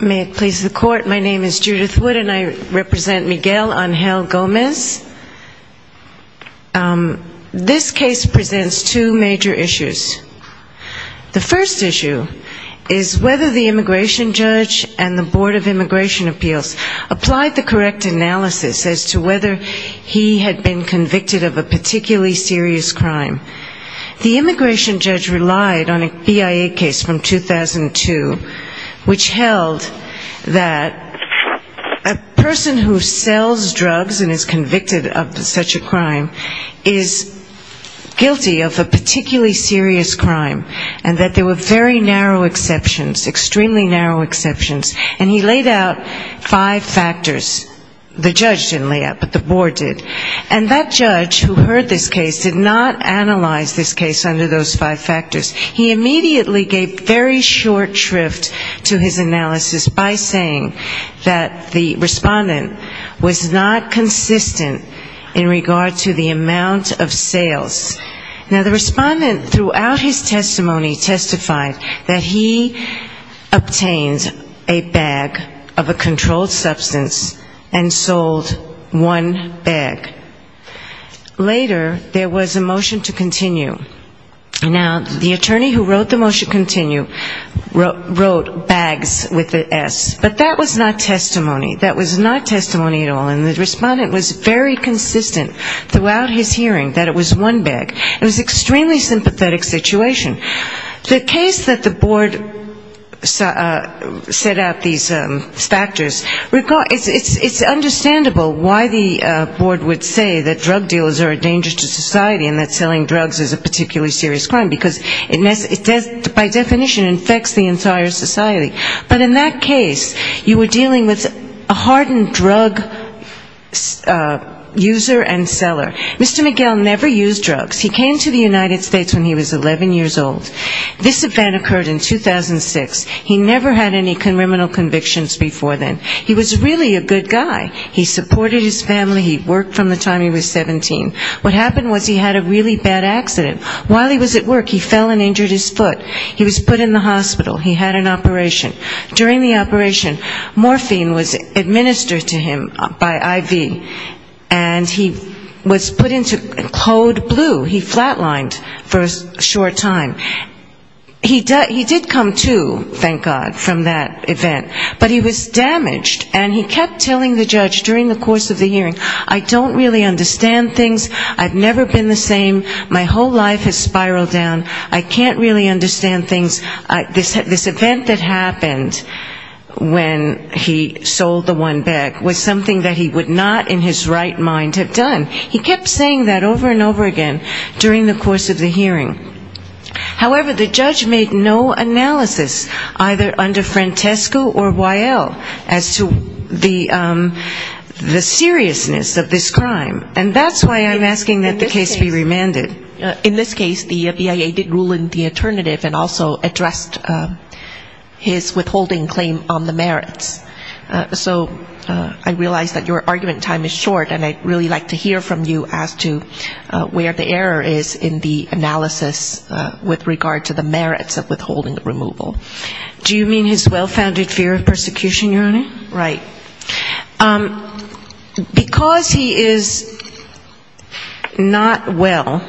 May it please the Court, my name is Judith Wood and I represent Miguel Angel Gomez. This case presents two major issues. The first issue is whether the immigration judge and the Board of Immigration Appeals applied the correct analysis as to whether he had been convicted of a particularly serious crime. The immigration judge relied on a BIA case from 2002 which held that a person who sells drugs and is convicted of such a crime is guilty of a particularly serious crime and that there were very narrow exceptions, extremely narrow exceptions, and he laid out five factors. The judge didn't lay out, but the board did. And that judge who heard this case did not analyze this case under those five factors. He immediately gave very short shrift to his analysis by saying that the respondent was not consistent in regard to the amount of sales. Now, the respondent throughout his testimony testified that he obtained a bag of a controlled substance and sold one bag. Later, there was a motion to continue. Now, the attorney who wrote the motion continue wrote bags with an S, but that was not testimony. That was not testimony at all. And the respondent was very consistent throughout his hearing that it was one bag. It was an extremely sympathetic situation. The case that the board set out these factors, it's understandable why the board would say that drug dealers are a danger to society and that selling drugs is a particularly serious crime, because it by definition infects the entire society. But in that case, you were dealing with a hardened drug user and seller. Mr. McGill never used drugs. He came to the United States when he was 11 years old. This event occurred in 2006. He never had any criminal convictions before then. He was really a good guy. He supported his family. He worked from the time he was 17. What happened was he had a really bad accident. While he was at work, he fell and injured his foot. He was put in the hospital. He had an operation. During the operation, morphine was administered to him by IV, and he was put into code blue. He flat lined for a short time. He did come to, thank God, from that hearing. I don't really understand things. I've never been the same. My whole life has spiraled down. I can't really understand things. This event that happened when he sold the one bag was something that he would not in his right mind have done. He kept saying that over and over again during the course of the hearing. However, the judge made no analysis, either under Francesco or Weill, as to the seriousness of this crime. And that's why I'm asking that the case be remanded. In this case, the BIA did rule in the alternative and also addressed his withholding claim on the merits. So I realize that your argument time is short, and I'd really like to hear from you as to where the error is in the analysis with regard to the merits of withholding removal. Do you mean his well-founded fear of persecution, Your Honor? Right. Because he is not well,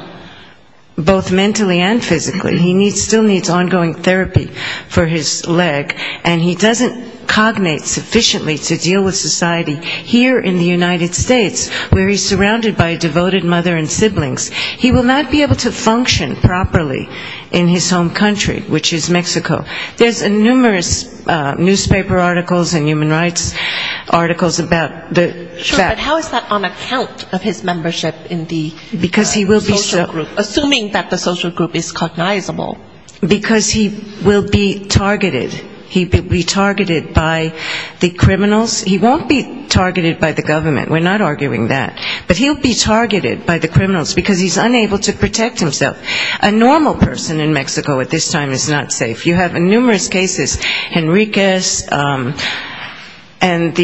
both mentally and physically, he still needs ongoing therapy for his leg, and he doesn't cognate sufficiently to deal with society here in the United States where he's surrounded by a devoted mother and siblings. He will not be able to function properly in his home country, which is Mexico. There's numerous newspaper articles and human rights articles about the fact that Sure, but how is that on account of his membership in the social group, assuming that the social group is cognizable? Because he will be targeted. He will be targeted by the criminals. He won't be targeted by the government. We're not arguing that. But he'll be targeted by the criminals because he's unable to protect himself. A normal person in Mexico at this time is not safe. You have numerous cases, Henriquez and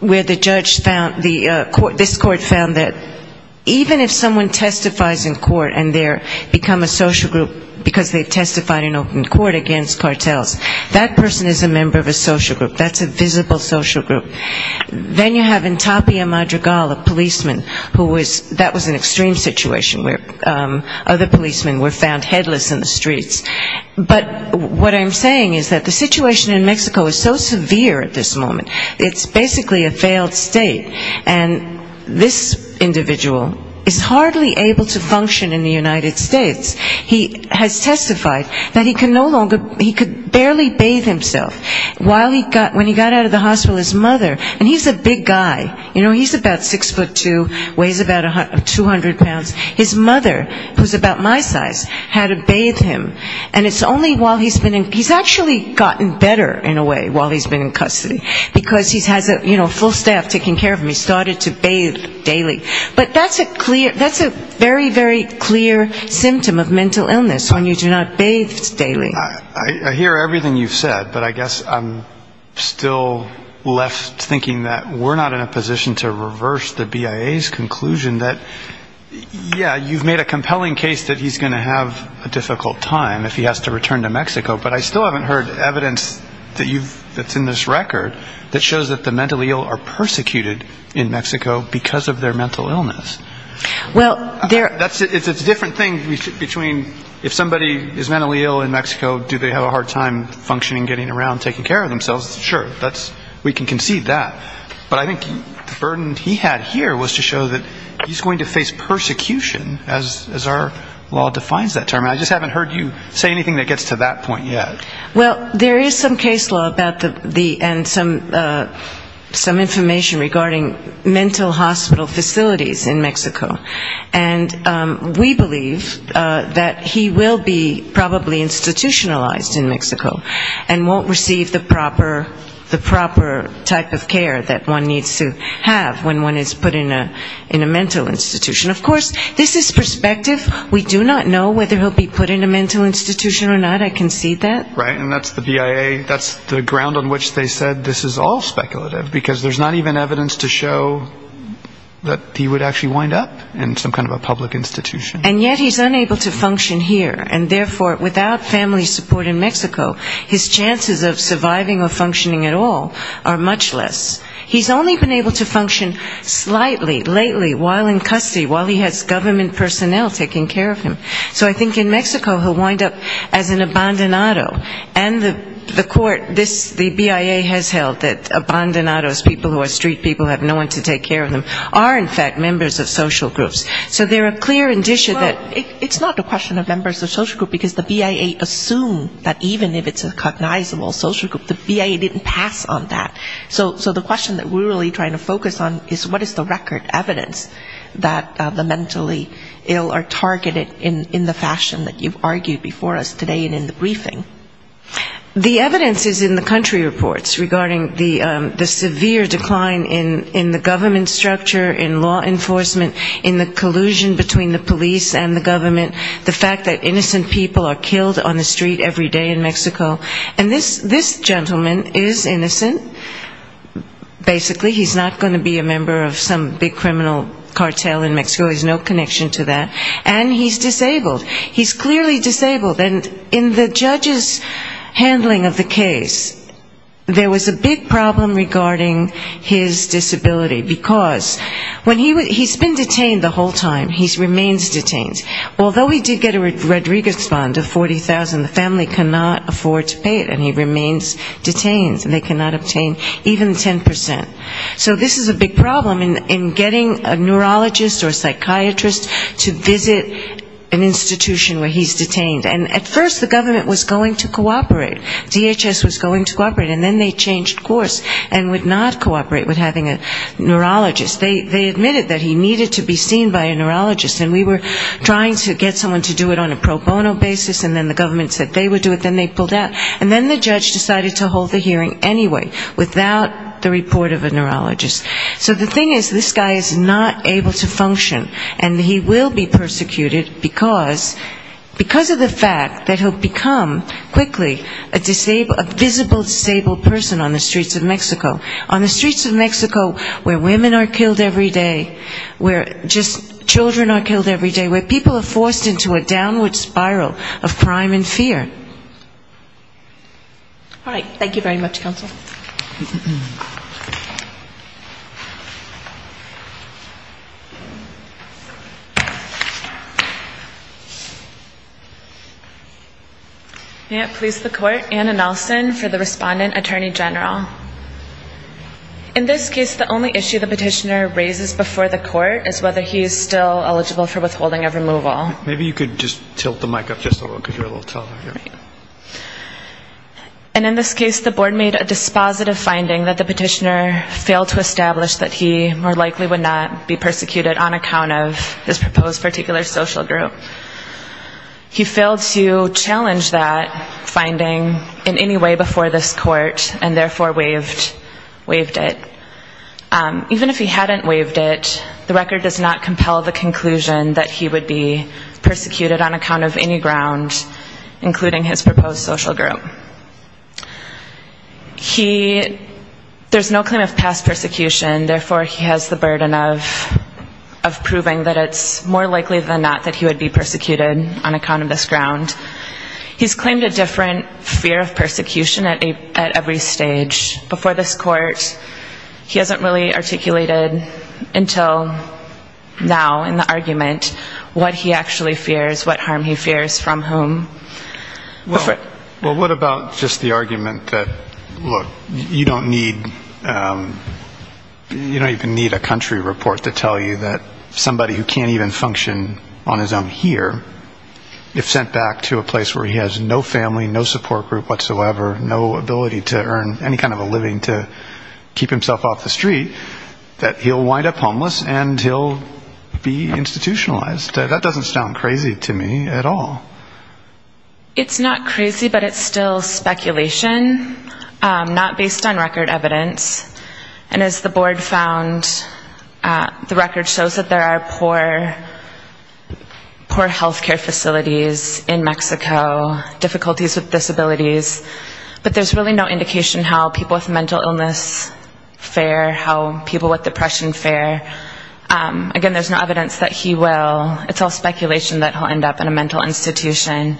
where the judge found, this court found that even if someone testifies in court and they become a social group because they testified in open court against cartels, that person is a member of a social group. That's a visible social group. Then you have in Tapia Madrigal, a policeman, that was an extreme situation where other policemen were found headless in the streets. But what I'm saying is that the situation in Mexico is so severe at this moment, it's basically a failed state. And this individual is hardly able to function in the United States. He has testified that he can no longer, he can no longer function. And he's a big guy. He's about 6'2", weighs about 200 pounds. His mother, who is about my size, had to bathe him. And it's only while he's been in he's actually gotten better in a way while he's been in custody. Because he has a full staff taking care of him. He started to bathe daily. But that's a very, very clear symptom of mental illness, when you do not bathe daily. I hear everything you've said. But I guess I'm still left thinking that we're not in a position to reverse the BIA's conclusion that, yeah, you've made a compelling case that he's going to have a difficult time if he has to return to Mexico. But I still haven't heard evidence that's in this record that shows that the mentally ill are persecuted in Mexico because of their mental illness. It's a different thing between if somebody is mentally ill in Mexico, do they have a hard time functioning, getting around, taking care of themselves? Sure. We can concede that. But I think the burden he had here was to show that he's going to face persecution as our law defines that term. And I just haven't heard you say anything that gets to that point yet. Well, there is some case law and some information regarding mental hospital facilities in Mexico. And we believe that he will be probably institutionalized in Mexico and won't receive the proper type of care that one needs to have when one is put in a mental institution. Of course, this is perspective. We do not know whether he'll be put in a mental institution or not. I concede that. Right. And that's the BIA, that's the ground on which they said this is all speculative, because there's not even evidence to show that he would actually wind up in some kind of a public institution. And yet he's unable to function here. And therefore, without family support in Mexico, his chances of surviving or functioning at all are much less. He's only been able to function slightly, lately, while in custody, while he has government personnel taking care of him. So I think in Mexico he'll wind up as an abandonado, as people who are street people who have no one to take care of them, are in fact members of social groups. So there are clear indicia that it's not a question of members of social groups, because the BIA assumed that even if it's a cognizable social group, the BIA didn't pass on that. So the question that we're really trying to focus on is what is the record evidence that the mentally ill are targeted in the fashion that you've argued before us today and in the briefing? The evidence is in the country reports regarding the severe decline in the government structure, in law enforcement, in the collusion between the police and the government, the fact that innocent people are killed on the street every day in Mexico. And this gentleman is innocent. Basically he's not going to be a member of some big criminal cartel in Mexico. He has no connection to that. And he's disabled. He's clearly disabled. And in the judge's handling of the case, there was a big problem regarding his disability, because when he was he's been detained the whole time. He remains detained. Although he did get a Rodriguez fund of 40,000, the family cannot afford to pay it, and he remains detained. And they cannot obtain even 10%. So this is a big problem in getting a neurologist or psychiatrist to visit an institution where he's detained. And at first the government was going to cooperate. DHS was going to cooperate. And then they changed course and would not cooperate with having a neurologist. They admitted that he needed to be seen by a neurologist, and we were trying to get someone to do it on a pro bono basis, and then the government said they would do it, then they pulled out. And then the judge decided to hold the hearing anyway, without the report of a neurologist. So the thing is, this guy is not able to function, and he will be persecuted because of the fact that he'll become a visible disabled person on the streets of Mexico. On the streets of Mexico where women are killed every day, where just children are killed every day, where people are forced into a downward spiral of crime and fear. All right. Thank you very much, counsel. May it please the court. Anna Nelson for the respondent, attorney general. In this case, the only issue the petitioner raises before the court is whether he's still eligible for withholding of removal. And in this case, the board made a dispositive finding that the petitioner failed to establish that he more likely would not be persecuted on account of his proposed particular social group. He failed to challenge that, and the court decided to withhold that finding in any way before this court, and therefore waived it. Even if he hadn't waived it, the record does not compel the conclusion that he would be persecuted on account of any ground, including his proposed social group. There's no claim of past persecution, therefore he has the burden of proving that it's more likely than not that he would be persecuted on account of his proposed social group. There seems to be a different fear of persecution at every stage. Before this court, he hasn't really articulated until now in the argument what he actually fears, what harm he fears from whom. Well, what about just the argument that, look, you don't need a country report to tell you that somebody who can't even function on his own here, if sent back to a place where he has no family, no support group whatsoever, no ability to earn any kind of a living to keep himself off the street, that he'll wind up homeless and he'll be institutionalized? That doesn't sound crazy to me at all. It's not crazy, but it's still speculation, not based on record evidence. And as the board found, the record shows that there are poor health care facilities in Mexico, difficulties with disabilities, but there's really no indication how people with mental illness fare, how people with depression fare. Again, there's no evidence that he will. It's all speculation that he'll end up in a mental institution.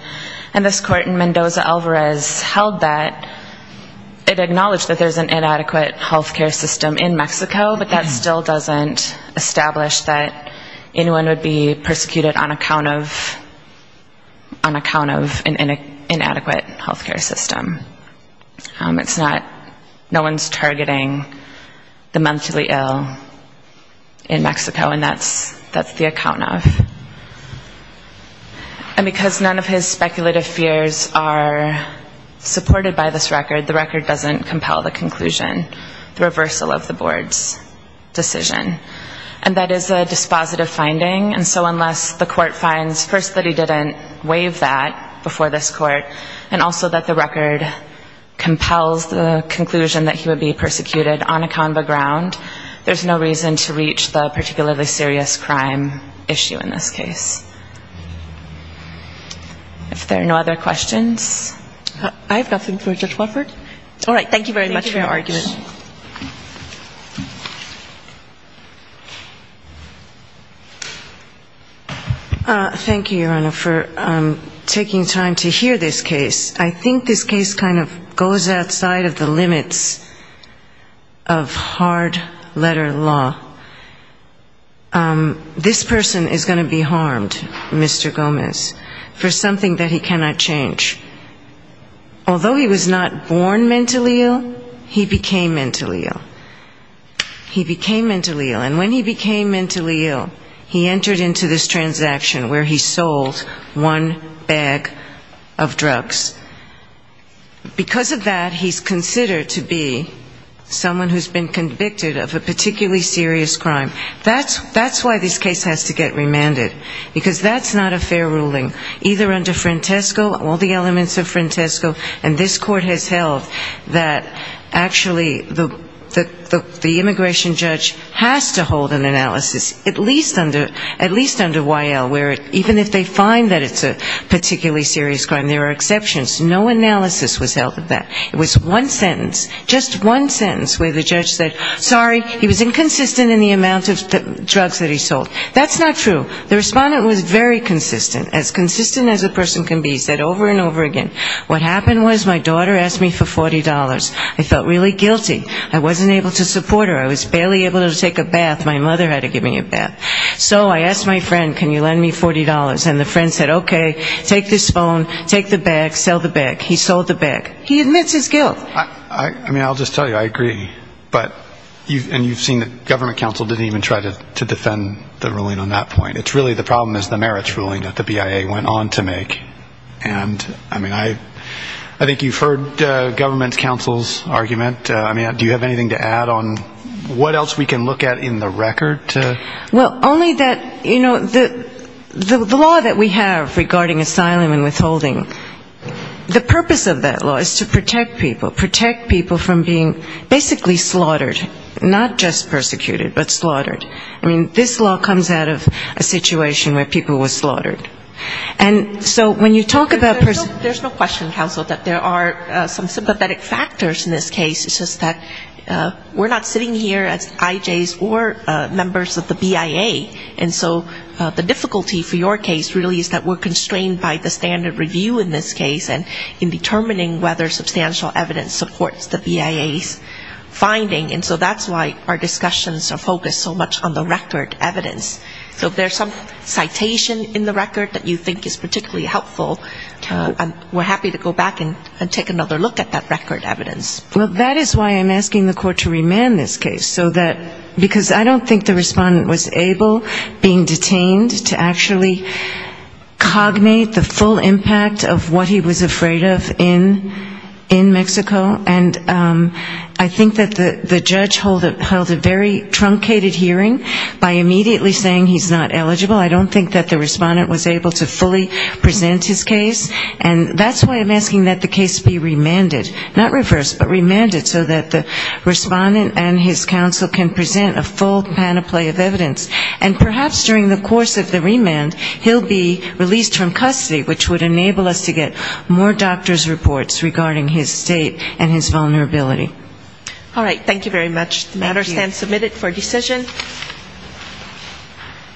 And this court in Mendoza Alvarez held that, it acknowledged that there's an inadequate health care system in Mexico, but that still doesn't establish that anyone would be persecuted on account of an inadequate health care system. It's not, no one's targeting the mentally ill in Mexico, and that's the account of. And because none of his speculative fears are supported by this record, the record doesn't compel the conclusion that he would be persecuted on a convo ground. There's no reason to reach the particularly serious crime issue in this case. If there are no other questions. I have nothing for Judge Wofford. All right. Thank you very much for your argument. Thank you, Your Honor, for taking time to hear this case. I think this case kind of goes outside of the limits of hard letter law. This person is going to be harmed, Mr. Gomez, for something that he cannot change. Although he was not born with a disability, he was born with a disability. When he was born mentally ill, he became mentally ill. He became mentally ill. And when he became mentally ill, he entered into this transaction where he sold one bag of drugs. Because of that, he's considered to be someone who's been convicted of a particularly serious crime. That's why this case has to get remanded, because that's not a fair ruling. Either under Frantesco, all the elements of Frantesco, and this court has held that actually the immigration judge has to hold an analysis, at least under Y.L., where even if they find that it's a particularly serious crime, there are exceptions. No analysis was held of that. It was one sentence, just one sentence where the judge said, sorry, he was inconsistent in the amount of drugs that he sold. That's not true. The respondent was very consistent, as consistent as a person can be, said over and over again. What happened was my daughter asked me for $40. I felt really guilty. I wasn't able to support her. I was barely able to take a bath. My mother had to give me a bath. So I asked my friend, can you lend me $40? And the friend said, okay, take this phone, take the bag, sell the bag. He sold the bag. He admits his guilt. I mean, I'll just tell you, I agree. And you've seen that government counsel didn't even try to defend the ruling on that point. It's really the problem is the merits ruling that the BIA went on to make. And I mean, I think you've heard government counsel's argument. I mean, do you have anything to add on what else we can look at in the record? Well, only that, you know, the law that we have regarding asylum and withholding, the purpose of that law is to protect people, protect people from being basically slaughtered, not just persecuted, but slaughtered. I mean, this law comes out of a situation where people were slaughtered. And so when you talk about personal ---- There's no question, counsel, that there are some sympathetic factors in this case. It's just that we're not sitting here as IJs or members of the BIA. And so the difficulty for your case really is that we're constrained by the standard review in this case and in determining whether substantial evidence supports the BIA's finding. And so that's why our discussions are focused so much on the record evidence. So if there's some citation in the record that you think is particularly helpful, we're happy to go back and take another look at that record evidence. Well, that is why I'm asking the court to remand this case. Because I don't think the respondent was able, being detained, to actually cognate the full impact of what he was afraid of in Mexico. And I think that the judge held a very truncated hearing by immediately saying he's not eligible. I don't think that the respondent was able to fully present his case. And that's why I'm asking that the case be remanded. Not reversed, but remanded so that the respondent and his counsel can present a full panoply of evidence. And perhaps during the course of the remand, he'll be released from custody, which would enable us to get more doctor's reports regarding his state and his vulnerability. Thank you.